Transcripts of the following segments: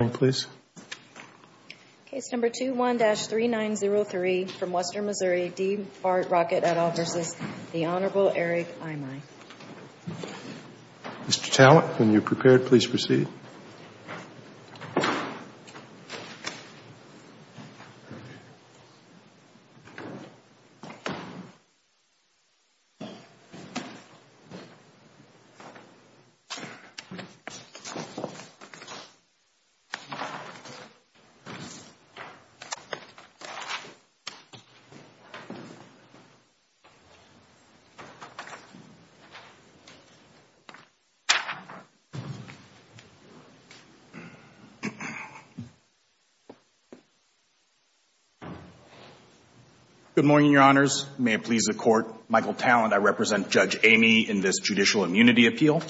Mr. Talent, when you are prepared, please proceed. Good morning, Your Honors. May it please the Court, Michael Talent, I represent Judge Eighmy in this Judicial Immunity Appeal.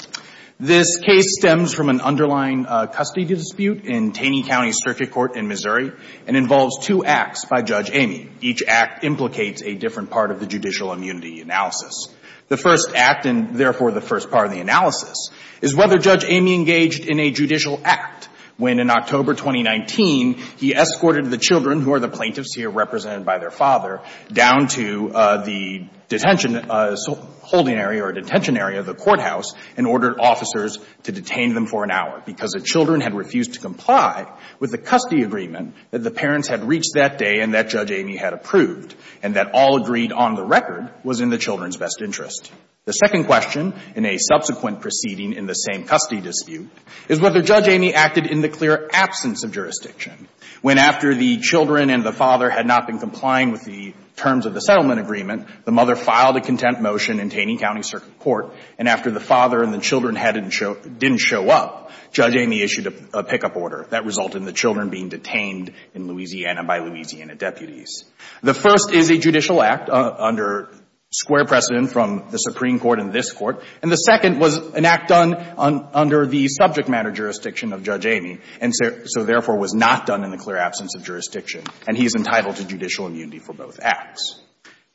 This case stems from an underlying custody dispute in Taney County Circuit Court in Missouri, and involves two acts by Judge Eighmy. Each act implicates a different part of the judicial immunity analysis. The first act, and therefore the first part of the analysis, is whether Judge Eighmy engaged in a judicial act when, in October 2019, he escorted the children, who are the plaintiffs here represented by their father, down to the detention holding area or detention area of the courthouse, and ordered officers to detain them for an hour, because the children had refused to comply with the custody agreement that the parents had reached that day and that Judge Eighmy had approved, and that all agreed on the record was in the children's best interest. The second question in a subsequent proceeding in the same custody dispute is whether Judge Eighmy acted in the clear absence of jurisdiction, when after the children and the father had not been complying with the terms of the settlement agreement, the mother filed a content motion in Taney County Circuit Court, and after the father and the children had didn't show up, Judge Eighmy issued a pickup order. That resulted in the children being detained in Louisiana by Louisiana deputies. The first is a judicial act under square precedent from the Supreme Court and this Court, and the second was an act done under the subject matter jurisdiction of Judge Eighmy, and so therefore was not done in the clear absence of jurisdiction, and he is entitled to judicial immunity for both acts.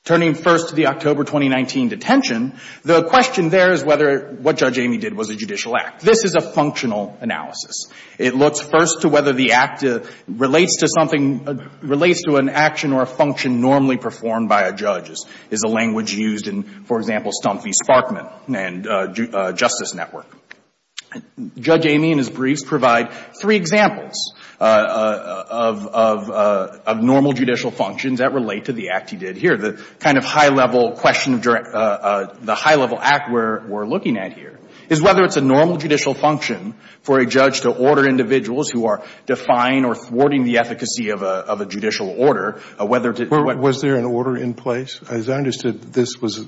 Turning first to the October 2019 detention, the question there is whether what Judge Eighmy did was a judicial act. This is a functional analysis. It looks first to whether the act relates to something, relates to an action or a function normally performed by a judge. This is the language used in, for example, Stump v. Sparkman and Justice Network. Judge Eighmy and his briefs provide three examples of normal judicial functions that relate to the act he did here. The kind of high-level question, the high-level act we're looking at here is whether it's a normal judicial function for a judge to order individuals who are defying or thwarting the efficacy of a judicial order, whether to... Was there an order in place? As I understood, this was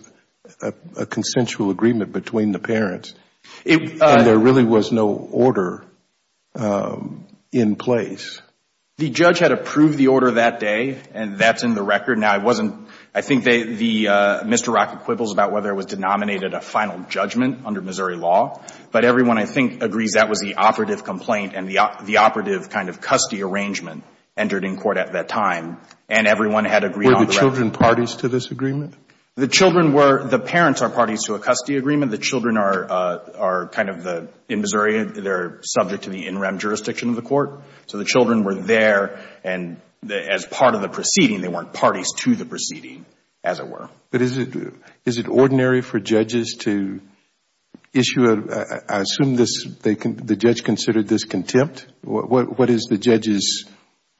a consensual agreement between the parents and there really was no order in place. The judge had approved the order that day, and that's in the record. Now, it wasn't — I think the — Mr. Rockett quibbles about whether it was denominated a final judgment under Missouri law, but everyone, I think, agrees that was the operative complaint and the operative kind of custody arrangement entered in court at that time, and everyone had agreed on the record. Were the children parties to this agreement? The children were — the parents are parties to a custody agreement. The children are kind of the — in Missouri, they're subject to the in-rem jurisdiction of the children were there, and as part of the proceeding, they weren't parties to the proceeding, as it were. But is it ordinary for judges to issue a — I assume the judge considered this contempt? What is the judge's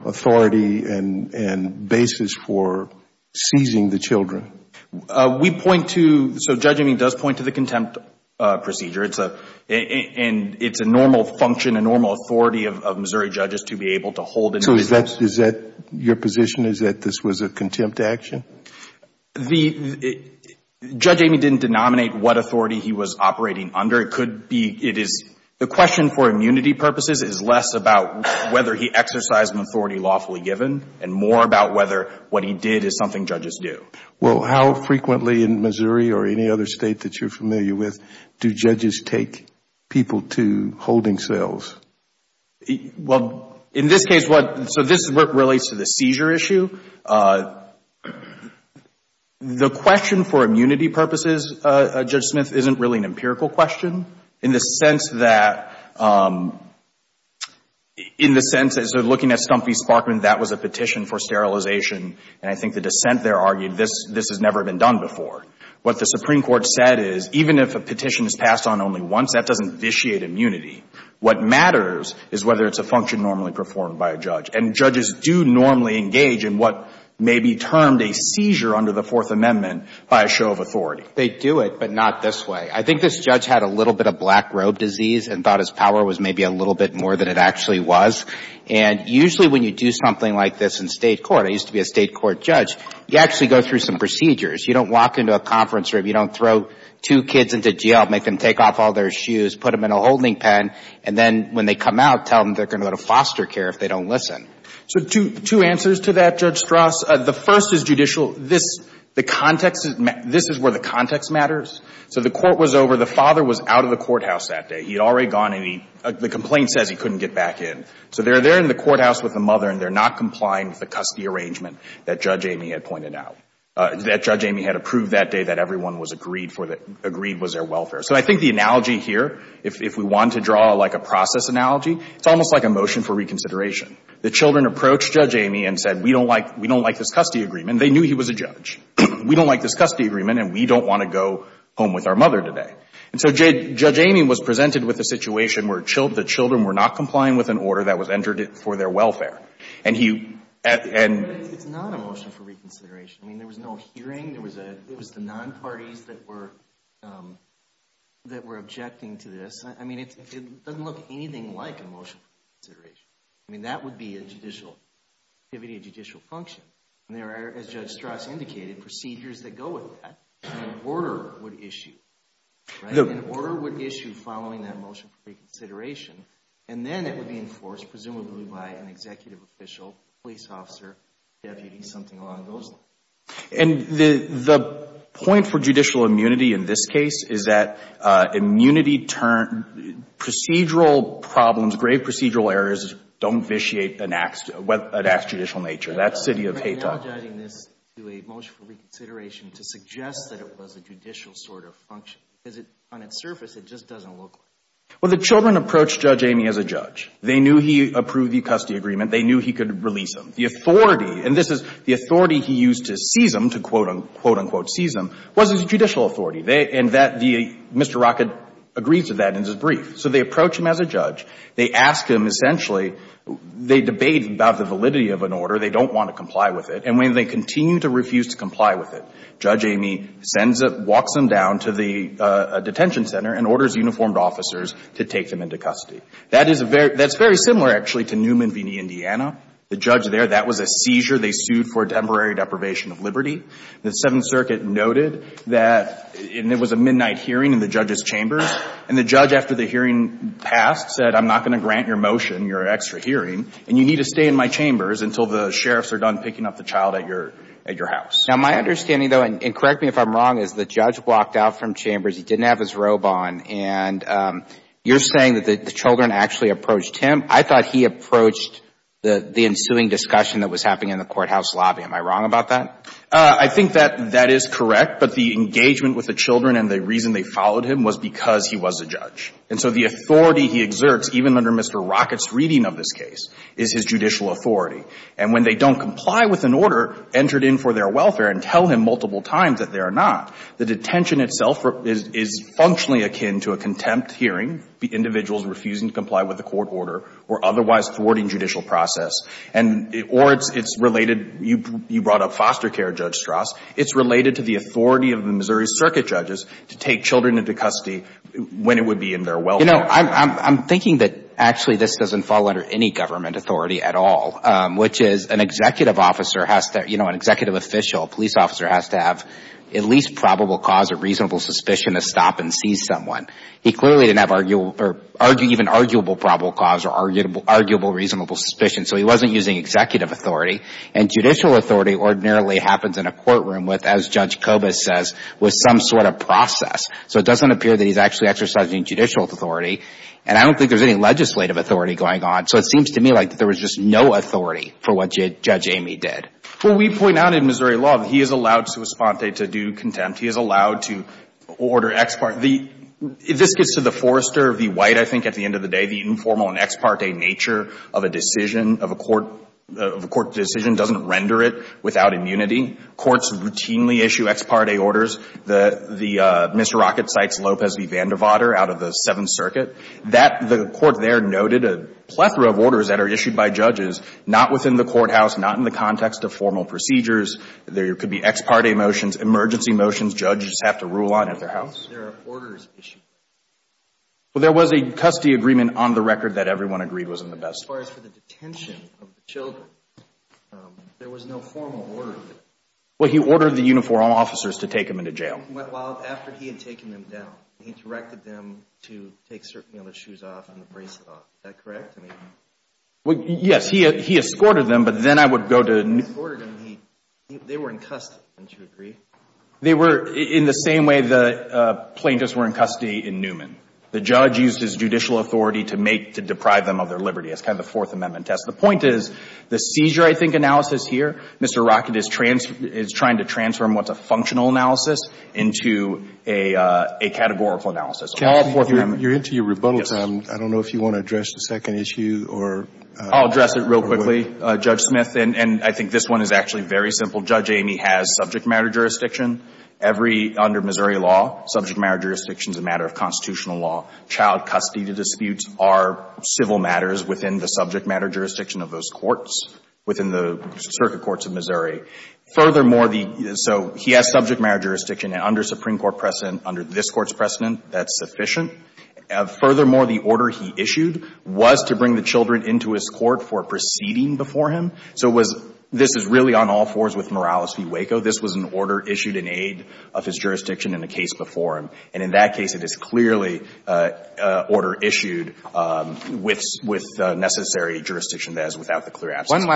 authority and basis for seizing the children? We point to — so Judge Amin does point to the contempt procedure. It's a normal function, a normal authority of Missouri judges to be able to hold individuals. So is that — your position is that this was a contempt action? Judge Amin didn't denominate what authority he was operating under. It could be — it is — the question for immunity purposes is less about whether he exercised an authority lawfully given and more about whether what he did is something judges do. Well, how frequently in Missouri or any other state that you're familiar with do judges take people to holding cells? Well, in this case, what — so this is what relates to the seizure issue. The question for immunity purposes, Judge Smith, isn't really an empirical question in the sense that — in the sense as they're looking at Stumpy Sparkman, that was a petition for sterilization, and I think the dissent there argued this has never been done before. What the Supreme Court said is, even if a petition is passed on only once, that doesn't vitiate immunity. What matters is whether it's a function normally performed by a judge. And judges do normally engage in what may be termed a seizure under the Fourth Amendment by a show of authority. They do it, but not this way. I think this judge had a little bit of black robe disease and thought his power was maybe a little bit more than it actually was. And usually when you do something like this in state court — I used to be a state court judge — you actually go through some procedures. You don't walk into a conference room, you don't throw two kids into jail, make them take off all their shoes, put them in a holding pen, and then when they come out, tell them they're going to go to foster care if they don't listen. So two answers to that, Judge Strauss. The first is judicial. This — the context — this is where the context matters. So the court was over. The father was out of the courthouse that day. He had already gone, and he — the complaint says he couldn't get back in. So they're there in the courthouse with the mother, and they're not complying with the that Judge Amy had approved that day that everyone was agreed for the — agreed was their welfare. So I think the analogy here, if we want to draw, like, a process analogy, it's almost like a motion for reconsideration. The children approached Judge Amy and said, we don't like — we don't like this custody agreement. They knew he was a judge. We don't like this custody agreement, and we don't want to go home with our mother today. And so Judge Amy was presented with a situation where the children were not complying with an order that was entered for their welfare. And he — and — It's not a motion for reconsideration. I mean, there was no hearing. There was a — it was the non-parties that were — that were objecting to this. I mean, it doesn't look anything like a motion for reconsideration. I mean, that would be a judicial activity, a judicial function. And there are, as Judge Strass indicated, procedures that go with that. An order would issue, right? An order would issue following that motion for reconsideration, and then it would be enforced, presumably by an executive official, police officer, deputy, something along those lines. And the point for judicial immunity in this case is that immunity turned — procedural problems, grave procedural errors don't vitiate an act — an act's judicial nature. That's city of Haiti. I'm analogizing this to a motion for reconsideration to suggest that it was a judicial sort of function, because it — on its surface, it just doesn't look like it. Well, the children approached Judge Amy as a judge. They knew he approved the custody agreement. They knew he could release him. The authority — and this is — the authority he used to seize him, to quote-unquote seize him, was his judicial authority. They — and that the — Mr. Rockett agrees to that in his brief. So they approach him as a judge. They ask him, essentially — they debate about the validity of an order. They don't want to comply with it. And when they continue to refuse to comply with it, Judge Amy sends a — walks them down to the detention center and orders uniformed officers to take them into custody. That is a very — that's very similar, actually, to Newman v. Indiana. The judge there, that was a seizure. They sued for temporary deprivation of liberty. The Seventh Circuit noted that — and it was a midnight hearing in the judge's chambers. And the judge, after the hearing passed, said, I'm not going to grant your motion, your extra hearing, and you need to stay in my chambers until the sheriffs are done picking up the child at your — at your house. Now, my understanding, though — and correct me if I'm wrong — is the judge walked out from chambers. He didn't have his robe on. And you're saying that the children actually approached him. I thought he approached the ensuing discussion that was happening in the courthouse lobby. Am I wrong about that? I think that that is correct. But the engagement with the children and the reason they followed him was because he was a judge. And so the authority he exerts, even under Mr. Rockett's reading of this case, is his judicial authority. And when they don't comply with an order entered in for their welfare and tell him multiple times that they are not, the detention itself is — is functionally akin to a contempt hearing, the individuals refusing to comply with a court order or otherwise thwarting judicial process. And — or it's — it's related — you brought up foster care, Judge Strauss. It's related to the authority of the Missouri Circuit judges to take children into custody when it would be in their welfare. You know, I'm — I'm thinking that, actually, this doesn't fall under any government authority at all, which is an executive officer has to — you know, an executive official, a police officer, has to have at least probable cause or reasonable suspicion to stop and seize someone. He clearly didn't have arguable — or even arguable probable cause or arguable — arguable reasonable suspicion. So he wasn't using executive authority. And judicial authority ordinarily happens in a courtroom with, as Judge Kobus says, with some sort of process. So it doesn't appear that he's actually exercising judicial authority. And I don't think there's any legislative authority going on. So it seems to me like there was just no authority for what Judge Amy did. Well, we point out in Missouri law that he is allowed sua sponte to do contempt. He is allowed to order ex parte. The — this gets to the Forrester v. White, I think, at the end of the day. The informal and ex parte nature of a decision, of a court — of a court decision doesn't render it without immunity. Courts routinely issue ex parte orders. The — the — Mr. Rockett cites Lopez v. Vandervater out of the Seventh Circuit. That — the court there noted a plethora of orders that are issued by judges, not within the courthouse, not in the context of formal procedures. There could be ex parte motions, emergency motions judges have to rule on at their house. There are orders issued. Well, there was a custody agreement on the record that everyone agreed was in the best — As far as for the detention of the children, there was no formal order. Well, he ordered the uniformed officers to take them into jail. Well, after he had taken them down, he directed them to take certain other shoes off and the bracelet off. Is that correct? I mean — Well, yes. He — he escorted them, but then I would go to — He escorted them. He — they were in custody, don't you agree? They were in the same way the plaintiffs were in custody in Newman. The judge used his judicial authority to make — to deprive them of their liberty. That's kind of the Fourth Amendment test. The point is, the seizure, I think, analysis here, Mr. Rockett is — is trying to into a — a categorical analysis. Can I add one more thing? You're into your rebuttal time. I don't know if you want to address the second issue or — I'll address it real quickly, Judge Smith. And I think this one is actually very simple. Judge Amy has subject matter jurisdiction every — under Missouri law. Subject matter jurisdiction is a matter of constitutional law. Child custody disputes are civil matters within the subject matter jurisdiction of those courts, within the circuit courts of Missouri. Furthermore, the — so he has subject matter jurisdiction. And under Supreme Court precedent, under this Court's precedent, that's sufficient. Furthermore, the order he issued was to bring the children into his court for proceeding before him. So it was — this is really on all fours with Morales v. Waco. This was an order issued in aid of his jurisdiction in a case before him. And in that case, it is clearly an order issued with — with necessary jurisdiction that is without the clear absence of jurisdiction. One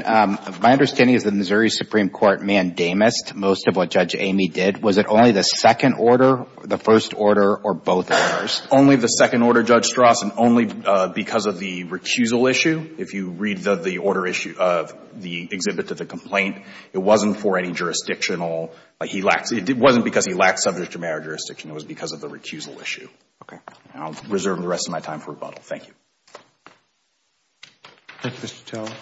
last question. My understanding is the Missouri Supreme Court mandamused most of what Judge Amy did. Was it only the second order, the first order, or both orders? Only the second order, Judge Strass. And only because of the recusal issue. If you read the — the order issue of the exhibit to the complaint, it wasn't for any jurisdictional — he lacked — it wasn't because he lacked subject matter jurisdiction. It was because of the recusal issue. Okay. And I'll reserve the rest of my time for rebuttal. Thank you. Thank you, Mr. Teller.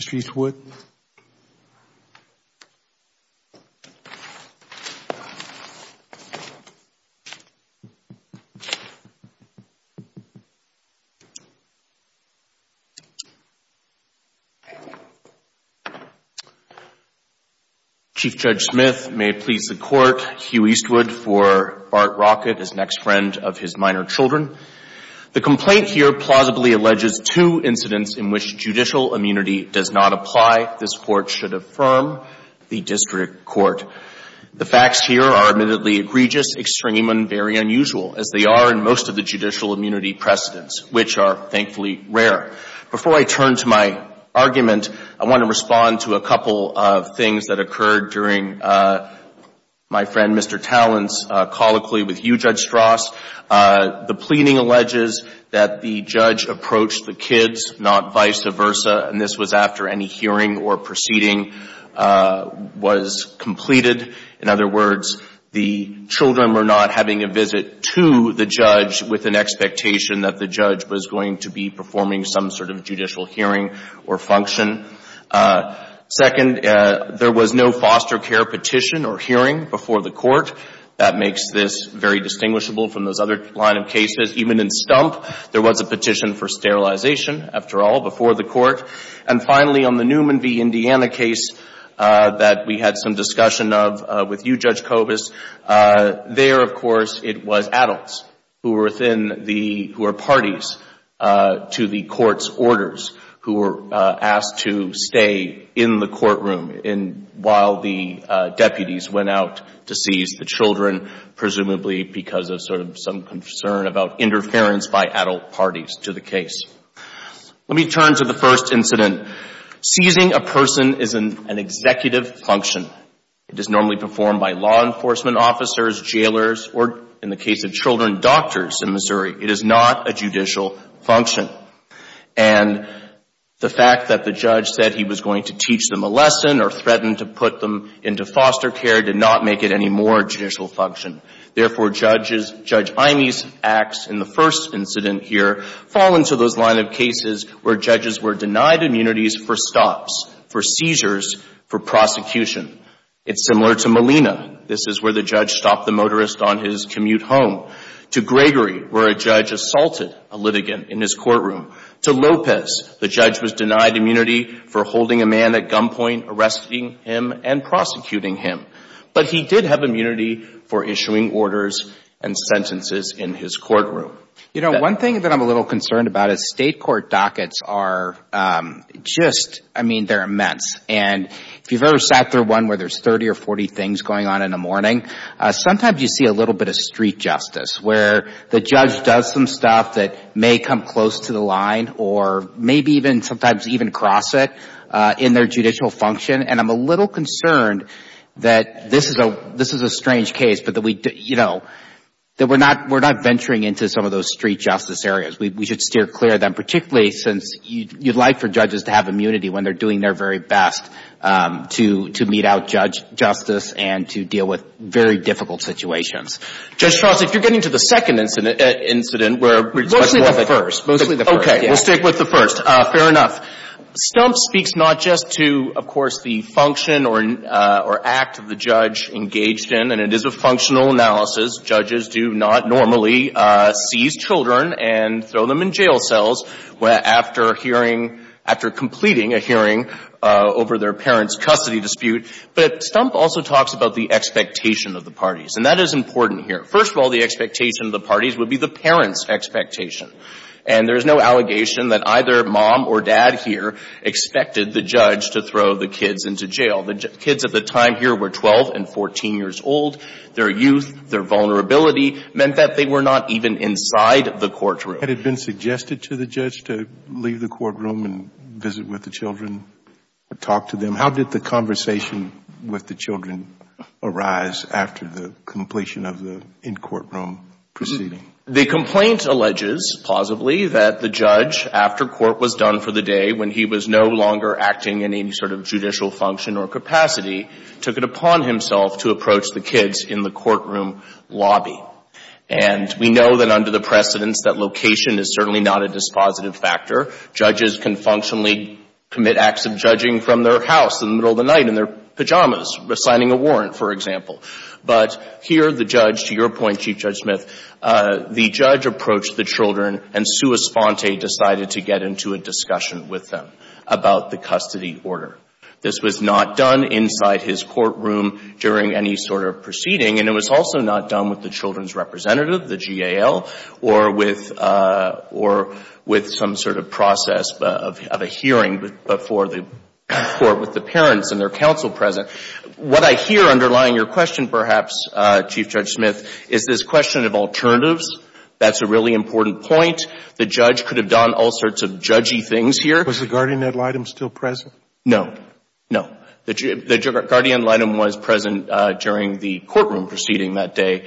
Mr. Eastwood. Chief Judge Smith, may it please the Court, Hugh Eastwood for Bart Rockett, his next friend of his minor children. The complaint here plausibly alleges two incidents in which judicial immunity does not apply. This Court should affirm the district court. The facts here are admittedly egregious, extreme, and very unusual, as they are in most of the judicial immunity precedents, which are, thankfully, rare. Before I turn to my argument, I want to respond to a couple of things that occurred during my friend, Mr. Talent's, colloquy with you, Judge Strass. The pleading alleges that the judge approached the kids, not vice versa, and this was after any hearing or proceeding was completed. In other words, the children were not having a visit to the judge with an expectation that the judge was going to be performing some sort of judicial hearing or function. Second, there was no foster care petition or hearing before the Court. That makes this very distinguishable from those other line of cases. Even in Stump, there was a petition for sterilization, after all, before the Court. And finally, on the Newman v. Indiana case that we had some discussion of with you, Judge Kobus, there, of course, it was adults who were parties to the Court's orders who were presumably because of some concern about interference by adult parties to the case. Let me turn to the first incident. Seizing a person is an executive function. It is normally performed by law enforcement officers, jailers, or, in the case of children, doctors in Missouri. It is not a judicial function. And the fact that the judge said he was going to teach them a lesson or threaten to put them into foster care did not make it any more judicial function. Therefore, Judge Imey's acts in the first incident here fall into those line of cases where judges were denied immunities for stops, for seizures, for prosecution. It's similar to Molina. This is where the judge stopped the motorist on his commute home. To Gregory, where a judge assaulted a litigant in his courtroom. To Lopez, the judge was denied immunity for holding a man at gunpoint, arresting him, and prosecuting him. But he did have immunity for issuing orders and sentences in his courtroom. You know, one thing that I'm a little concerned about is state court dockets are just, I mean, they're immense. And if you've ever sat through one where there's 30 or 40 things going on in a morning, sometimes you see a little bit of street justice, where the judge does some stuff that may come close to the line or maybe even sometimes even cross it in their judicial function. And I'm a little concerned that this is a strange case, but that we're not venturing into some of those street justice areas. We should steer clear of them, particularly since you'd like for judges to have immunity when they're doing their very best to mete out justice and to deal with very difficult situations. Judge Charles, if you're getting to the second incident, where it's much more thick. Mostly the first. Mostly the first. Okay. We'll stick with the first. Fair enough. Stumpf speaks not just to, of course, the function or act of the judge engaged in, and it is a functional analysis. Judges do not normally seize children and throw them in jail cells after hearing — after completing a hearing over their parent's custody dispute. But Stumpf also talks about the expectation of the parties. And that is important here. First of all, the expectation of the parties would be the parent's expectation. And there's no allegation that either mom or dad here expected the judge to throw the kids into jail. The kids at the time here were 12 and 14 years old. Their youth, their vulnerability meant that they were not even inside the courtroom. Had it been suggested to the judge to leave the courtroom and visit with the children, talk to them? How did the conversation with the children arise after the completion of the in-courtroom proceeding? The complaint alleges, plausibly, that the judge, after court was done for the day when he was no longer acting in any sort of judicial function or capacity, took it upon himself to approach the kids in the courtroom lobby. And we know that under the precedence that location is certainly not a dispositive factor. Judges can functionally commit acts of judging from their house in the middle of the night in their pajamas, signing a warrant, for example. But here, the judge, to your point, Chief Judge Smith, the judge approached the children and sua sponte decided to get into a discussion with them about the custody order. This was not done inside his courtroom during any sort of proceeding. And it was also not done with the children's representative, the GAL, or with some sort of process of a hearing before the court with the parents and their counsel present. What I hear underlying your question, perhaps, Chief Judge Smith, is this question of alternatives. That's a really important point. The judge could have done all sorts of judgy things here. Was the guardian ad litem still present? No. No. The guardian ad litem was present during the courtroom proceeding that day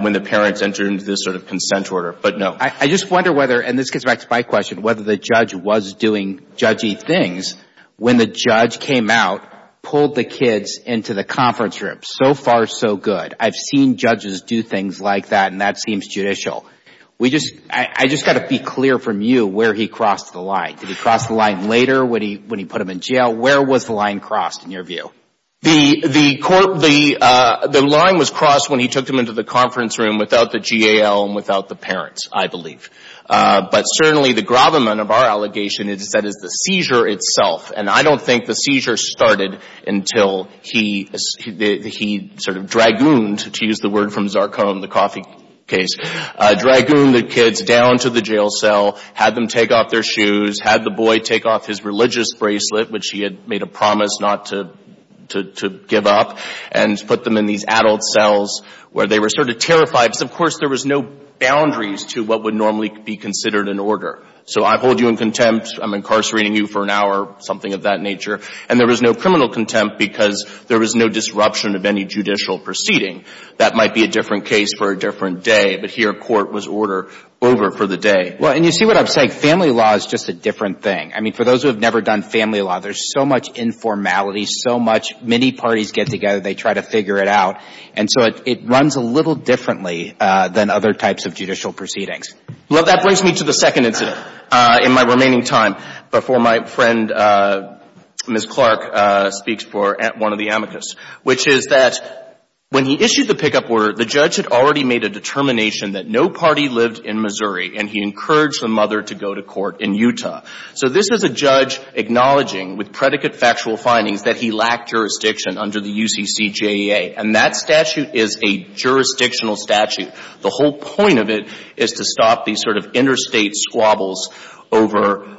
when the parents entered into this sort of consent order, but no. I just wonder whether, and this gets back to my question, whether the judge was doing judgy things when the judge came out, pulled the kids into the conference room. So far, so good. I've seen judges do things like that, and that seems judicial. We just, I just got to be clear from you where he crossed the line. Did he cross the line later when he put them in jail? Where was the line crossed in your view? The line was crossed when he took them into the conference room without the GAL and without the parents, I believe. But certainly the gravamen of our allegation is that it's the seizure itself, and I don't think the seizure started until he sort of dragooned, to use the word from Zarcon, the coffee case, dragooned the kids down to the jail cell, had them take off their shoes, had the boy take off his religious bracelet, which he had made a promise not to give up, and put them in these adult cells where they were sort of terrified. So of course there was no boundaries to what would normally be considered an order. So I hold you in contempt. I'm incarcerating you for an hour, something of that nature. And there was no criminal contempt because there was no disruption of any judicial proceeding. That might be a different case for a different day, but here court was order over for the day. Well, and you see what I'm saying? Family law is just a different thing. I mean, for those who have never done family law, there's so much informality, so much, many parties get together, they try to figure it out. And so it runs a little differently than other types of judicial proceedings. Well, that brings me to the second incident in my remaining time before my friend Ms. Clark speaks for one of the amicus, which is that when he issued the pickup order, the judge had already made a determination that no party lived in Missouri and he encouraged the mother to go to court in Utah. So this is a judge acknowledging with predicate factual findings that he lacked jurisdiction under the UCCJEA. And that statute is a jurisdictional statute. The whole point of it is to stop these sort of interstate squabbles over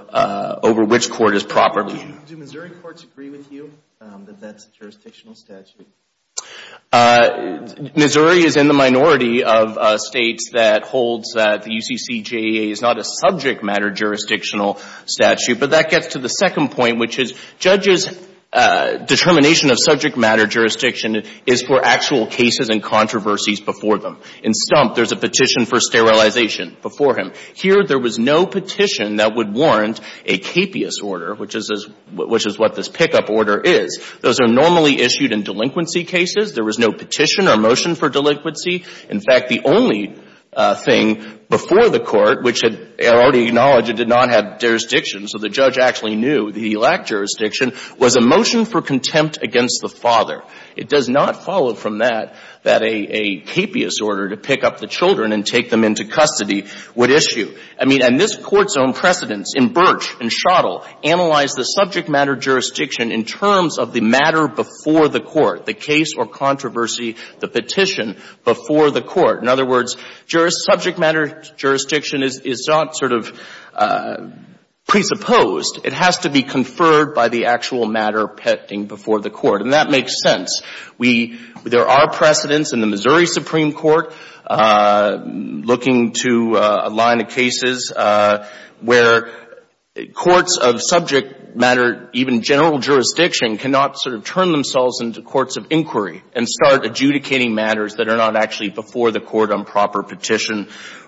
which court is proper. Do Missouri courts agree with you that that's a jurisdictional statute? Missouri is in the minority of states that holds that the UCCJEA is not a subject matter jurisdictional statute. But that gets to the second point, which is judge's determination of subject matter jurisdiction is for actual cases and controversies before them. In Stump, there's a petition for sterilization before him. Here, there was no petition that would warrant a capious order, which is what this pickup order is. Those are normally issued in delinquency cases. There was no petition or motion for delinquency. In fact, the only thing before the court, which had already acknowledged it did not It does not follow from that, that a capious order to pick up the children and take them into custody would issue. I mean, and this Court's own precedents in Birch and Schottle analyze the subject matter jurisdiction in terms of the matter before the court, the case or controversy, the petition before the court. In other words, subject matter jurisdiction is not sort of presupposed. It has to be conferred by the actual matter petting before the court. And that makes sense. We — there are precedents in the Missouri Supreme Court looking to a line of cases where courts of subject matter, even general jurisdiction, cannot sort of turn themselves into courts of inquiry and start adjudicating matters that are not actually before the court on proper petition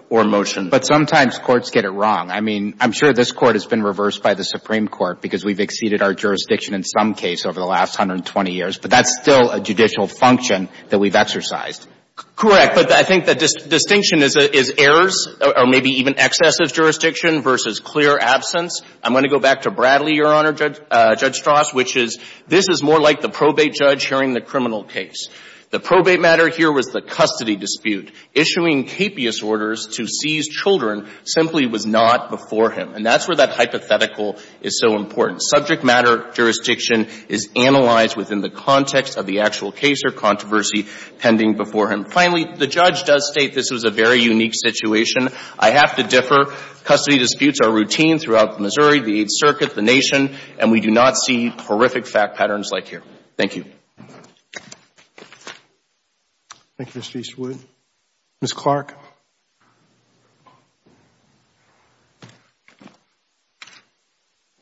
or motion. But sometimes courts get it wrong. I mean, I'm sure this Court has been reversed by the Supreme Court because we've exceeded our jurisdiction in some case over the last 120 years. But that's still a judicial function that we've exercised. Correct. But I think the distinction is errors or maybe even excessive jurisdiction versus clear absence. I'm going to go back to Bradley, Your Honor, Judge Strauss, which is this is more like the probate judge hearing the criminal case. The probate matter here was the custody dispute. Issuing capious orders to seize children simply was not before him. And that's where that hypothetical is so important. Subject matter jurisdiction is analyzed within the context of the actual case or controversy pending before him. Finally, the judge does state this was a very unique situation. I have to differ. Custody disputes are routine throughout Missouri, the Eighth Circuit, the Nation, and we do not see horrific fact patterns like here. Thank you. Thank you, Mr. Eastwood. Ms. Clark.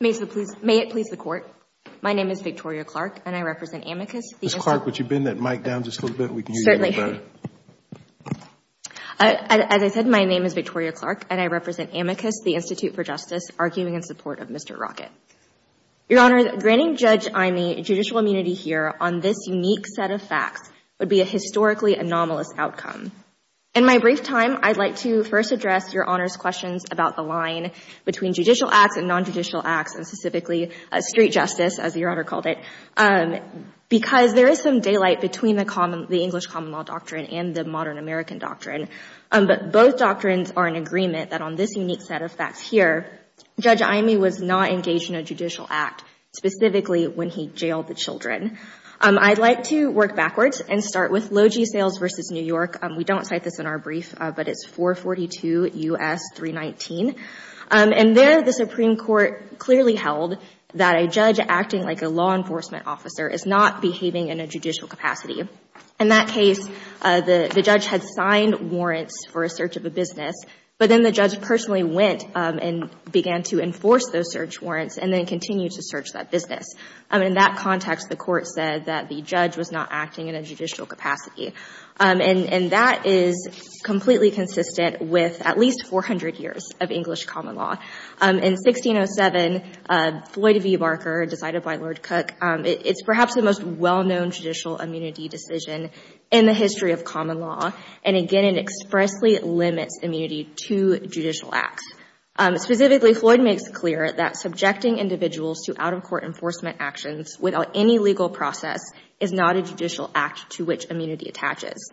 May it please the Court, my name is Victoria Clark and I represent Amicus, the Institute Ms. Clark, would you bend that mic down just a little bit and we can hear you a little better? Certainly. As I said, my name is Victoria Clark and I represent Amicus, the Institute for Justice, arguing in support of Mr. Rocket. on this unique set of facts would be a historically anomalous outcome. In my brief time, I'd like to first address your Honor's questions about the line between judicial acts and non-judicial acts and specifically street justice, as your Honor called it. Because there is some daylight between the English common law doctrine and the modern American doctrine, but both doctrines are in agreement that on this unique set of facts here, Judge Imey was not engaged in a judicial act, specifically when he jailed the children. I'd like to work backwards and start with Logee Sales v. New York. We don't cite this in our brief, but it's 442 U.S. 319. And there, the Supreme Court clearly held that a judge acting like a law enforcement officer is not behaving in a judicial capacity. In that case, the judge had signed warrants for a search of a business, but then the judge personally went and began to enforce those search warrants and then continue to search that business. In that context, the Court said that the judge was not acting in a judicial capacity. And that is completely consistent with at least 400 years of English common law. In 1607, Floyd v. Barker, decided by Lord Cook, it's perhaps the most well-known judicial immunity decision in the history of common law. And again, it expressly limits immunity to judicial acts. Specifically, Floyd makes it clear that subjecting individuals to out-of-court enforcement actions without any legal process is not a judicial act to which immunity attaches.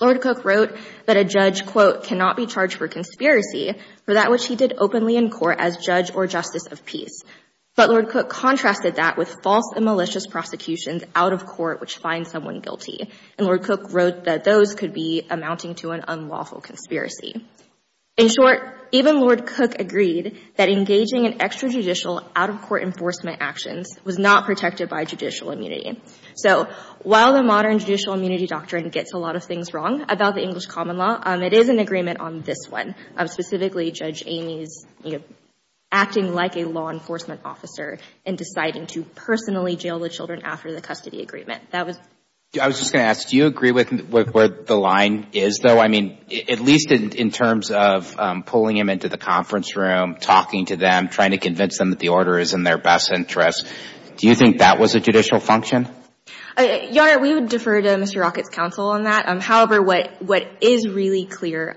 Lord Cook wrote that a judge, quote, cannot be charged for conspiracy for that which he did openly in court as judge or justice of peace. But Lord Cook contrasted that with false and malicious prosecutions out of court which find someone guilty. And Lord Cook wrote that those could be amounting to an unlawful conspiracy. In short, even Lord Cook agreed that engaging in extrajudicial out-of-court enforcement actions was not protected by judicial immunity. So while the modern judicial immunity doctrine gets a lot of things wrong about the English common law, it is an agreement on this one. Specifically, Judge Amy's acting like a law enforcement officer and deciding to personally jail the children after the custody agreement. I was just going to ask, do you agree with where the line is, though? I mean, at least in terms of pulling him into the conference room, talking to them, trying to convince them that the order is in their best interest. Do you think that was a judicial function? Your Honor, we would defer to Mr. Rockett's counsel on that. However, what is really clear,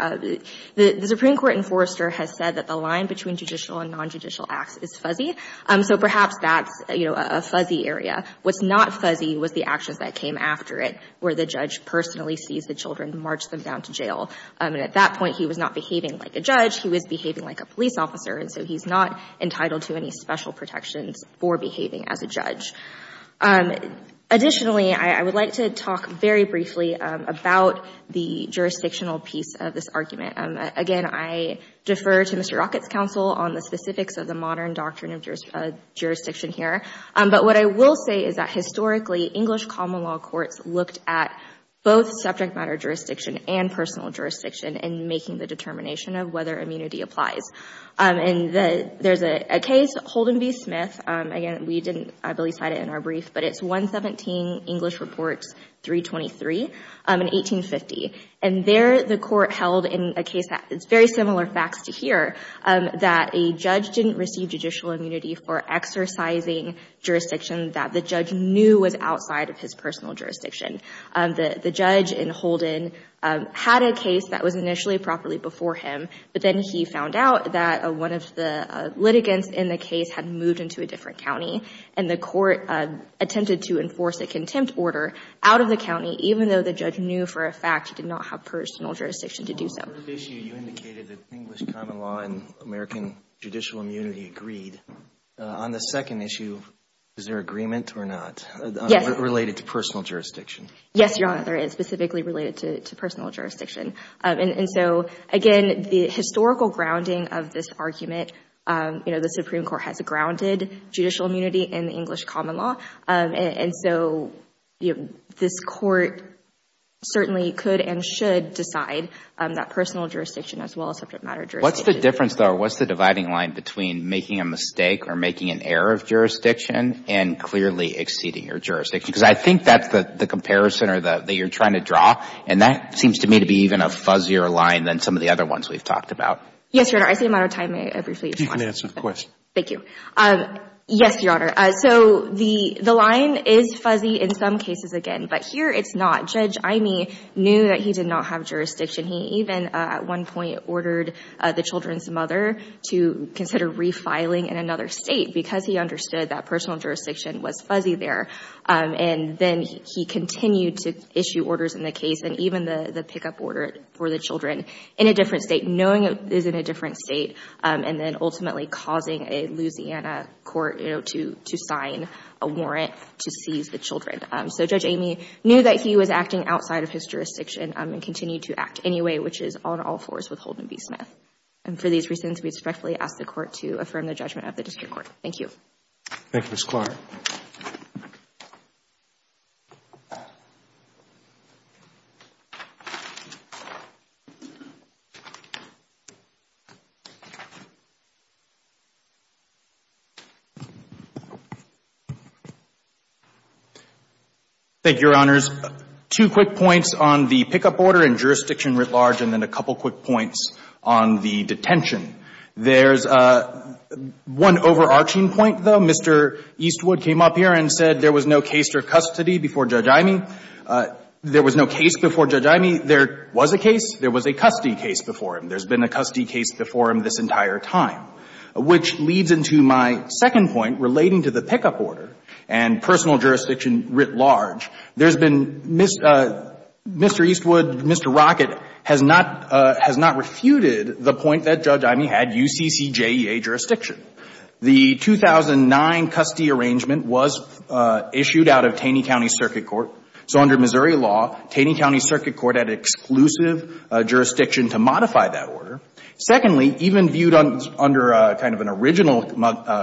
the Supreme Court enforcer has said that the line between judicial and nonjudicial acts is fuzzy. So perhaps that's, you know, a fuzzy area. What's not fuzzy was the actions that came after it, where the judge personally sees the children, march them down to jail. And at that point, he was not behaving like a judge. He was behaving like a police officer. And so he's not entitled to any special protections for behaving as a judge. Additionally, I would like to talk very briefly about the jurisdictional piece of this argument. Again, I defer to Mr. Rockett's counsel on the specifics of the modern doctrine of jurisdiction here. But what I will say is that historically, English common law courts looked at both subject matter jurisdiction and personal jurisdiction in making the determination of whether immunity applies. And there's a case, Holden v. Smith. Again, we didn't really cite it in our brief. But it's 117 English Reports 323 in 1850. And there, the court held in a case that is very similar facts to here, that a judge didn't receive judicial immunity for exercising jurisdiction that the judge knew was outside of his personal jurisdiction. The judge in Holden had a case that was initially properly before him. But then he found out that one of the litigants in the case had moved into a different county. And the court attempted to enforce a contempt order out of the county, even though the judge knew for a fact he did not have personal jurisdiction to do so. On the first issue, you indicated that English common law and American judicial immunity agreed. On the second issue, is there agreement or not? Yes. Related to personal jurisdiction. Yes, Your Honor, there is, specifically related to personal jurisdiction. And so, again, the historical grounding of this argument, you know, the Supreme Court has grounded judicial immunity in the English common law. And so, you know, this court certainly could and should decide that personal jurisdiction as well as subject matter jurisdiction. What's the difference, though, or what's the dividing line between making a mistake or making an error of jurisdiction and clearly exceeding your jurisdiction? Because I think that's the comparison that you're trying to draw. And that seems to me to be even a fuzzier line than some of the other ones we've talked about. Yes, Your Honor, I see a matter of time. May I briefly respond? You can answer the question. Thank you. Yes, Your Honor. So the line is fuzzy in some cases again. But here it's not. Judge Imey knew that he did not have jurisdiction. He even, at one point, ordered the children's mother to consider refiling in another state because he understood that personal jurisdiction was fuzzy there. And then he continued to issue orders in the case and even the pickup order for the children in a different state, knowing it is in a different state, and then ultimately causing a Louisiana court, you know, to sign a warrant to seize the children. So Judge Imey knew that he was acting outside of his jurisdiction and continued to act anyway, which is on all fours with Holden v. Smith. And for these reasons, we respectfully ask the Court to affirm the judgment of the District Court. Thank you. Thank you, Ms. Clark. Thank you, Your Honors. Two quick points on the pickup order and jurisdiction writ large and then a couple quick points on the detention. There's one overarching point, though. Mr. Eastwood came up here and said there was no case for custody before Judge Imey. There was no case before Judge Imey. There was a case. There was a custody case before him. There's been a custody case before him this entire time, which leads into my second point relating to the fact that relating to the pickup order and personal jurisdiction writ large, there's been Mr. Eastwood, Mr. Rockett has not refuted the point that Judge Imey had UCCJEA jurisdiction. The 2009 custody arrangement was issued out of Taney County Circuit Court. So under Missouri law, Taney County Circuit Court had exclusive jurisdiction to modify that order. Secondly, even viewed under kind of an original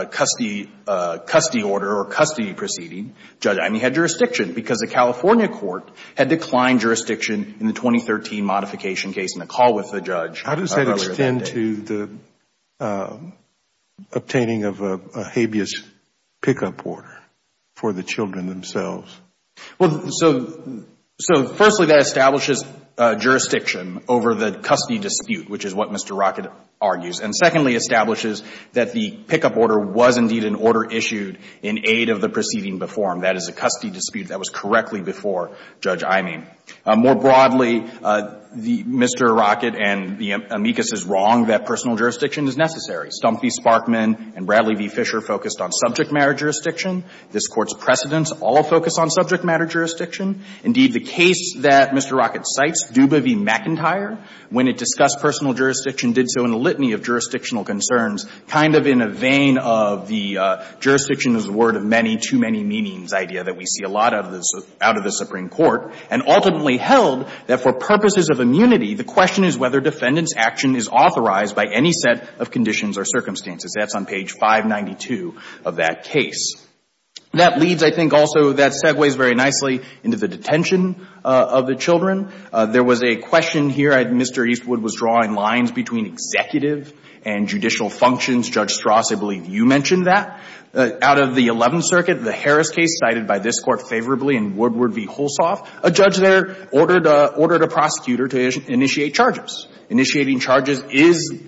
custody order or custody proceeding, Judge Imey had jurisdiction because the California court had declined jurisdiction in the 2013 modification case in the call with the judge earlier that day. How does that extend to the obtaining of a habeas pickup order for the children themselves? Well, so firstly, that establishes jurisdiction over the custody dispute, which is what Mr. Rockett argues. And secondly, establishes that the pickup order was indeed an order issued in aid of the proceeding before him. That is a custody dispute that was correctly before Judge Imey. More broadly, Mr. Rockett and the amicus is wrong that personal jurisdiction is necessary. Stump v. Sparkman and Bradley v. Fisher focused on subject matter jurisdiction. This Court's precedents all focus on subject matter jurisdiction. Indeed, the case that Mr. Rockett cites, Duba v. McIntyre, when it discussed personal jurisdiction, did so in a litany of jurisdictional concerns, kind of in a vein of the jurisdiction is a word of many, too many meanings idea that we see a lot of out of the Supreme Court, and ultimately held that for purposes of immunity, the question is whether defendant's action is authorized by any set of conditions or circumstances. That's on page 592 of that case. That leads, I think also, that segues very nicely into the detention of the children. There was a question here. Mr. Eastwood was drawing lines between executive and judicial functions. Judge Strass, I believe you mentioned that. Out of the Eleventh Circuit, the Harris case, cited by this Court favorably in Woodward v. Holsoft, a judge there ordered a prosecutor to initiate charges. Initiating charges is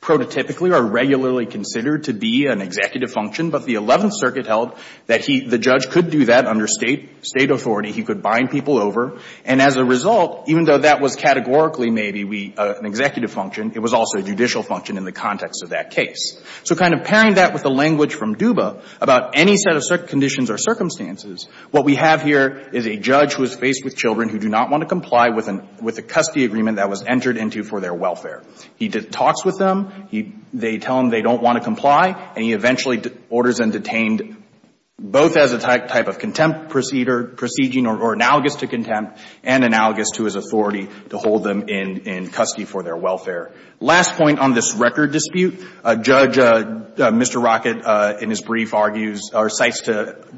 prototypically or regularly considered to be an executive function. But the Eleventh Circuit held that the judge could do that under State authority. He could bind people over. And as a result, even though that was categorically maybe an executive function, it was also a judicial function in the context of that case. So kind of pairing that with the language from Duba about any set of conditions or circumstances, what we have here is a judge who is faced with children who do not want to comply with a custody agreement that was entered into for their welfare. He talks with them. They tell him they don't want to comply. And he eventually orders them detained, both as a type of contempt proceeding or analogous to contempt and analogous to his authority to hold them in custody for their welfare. Last point on this record dispute, Judge Mr. Rockett in his brief argues or cites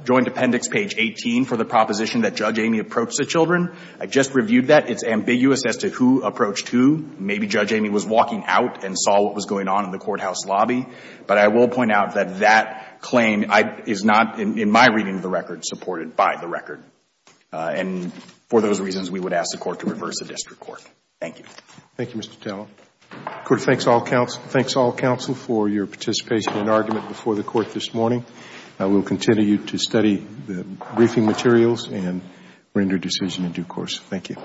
Joint Appendix page 18 for the proposition that Judge Amy approached the children. I just reviewed that. It's ambiguous as to who approached who. Maybe Judge Amy was walking out and saw what was going on in the courthouse lobby. But I will point out that that claim is not, in my reading of the record, supported by the record. And for those reasons, we would ask the court to reverse the district court. Thank you. Thank you, Mr. Tallow. The court thanks all counsel for your participation and argument before the court this morning. I will continue to study the briefing materials and render a decision in due course. Thank you.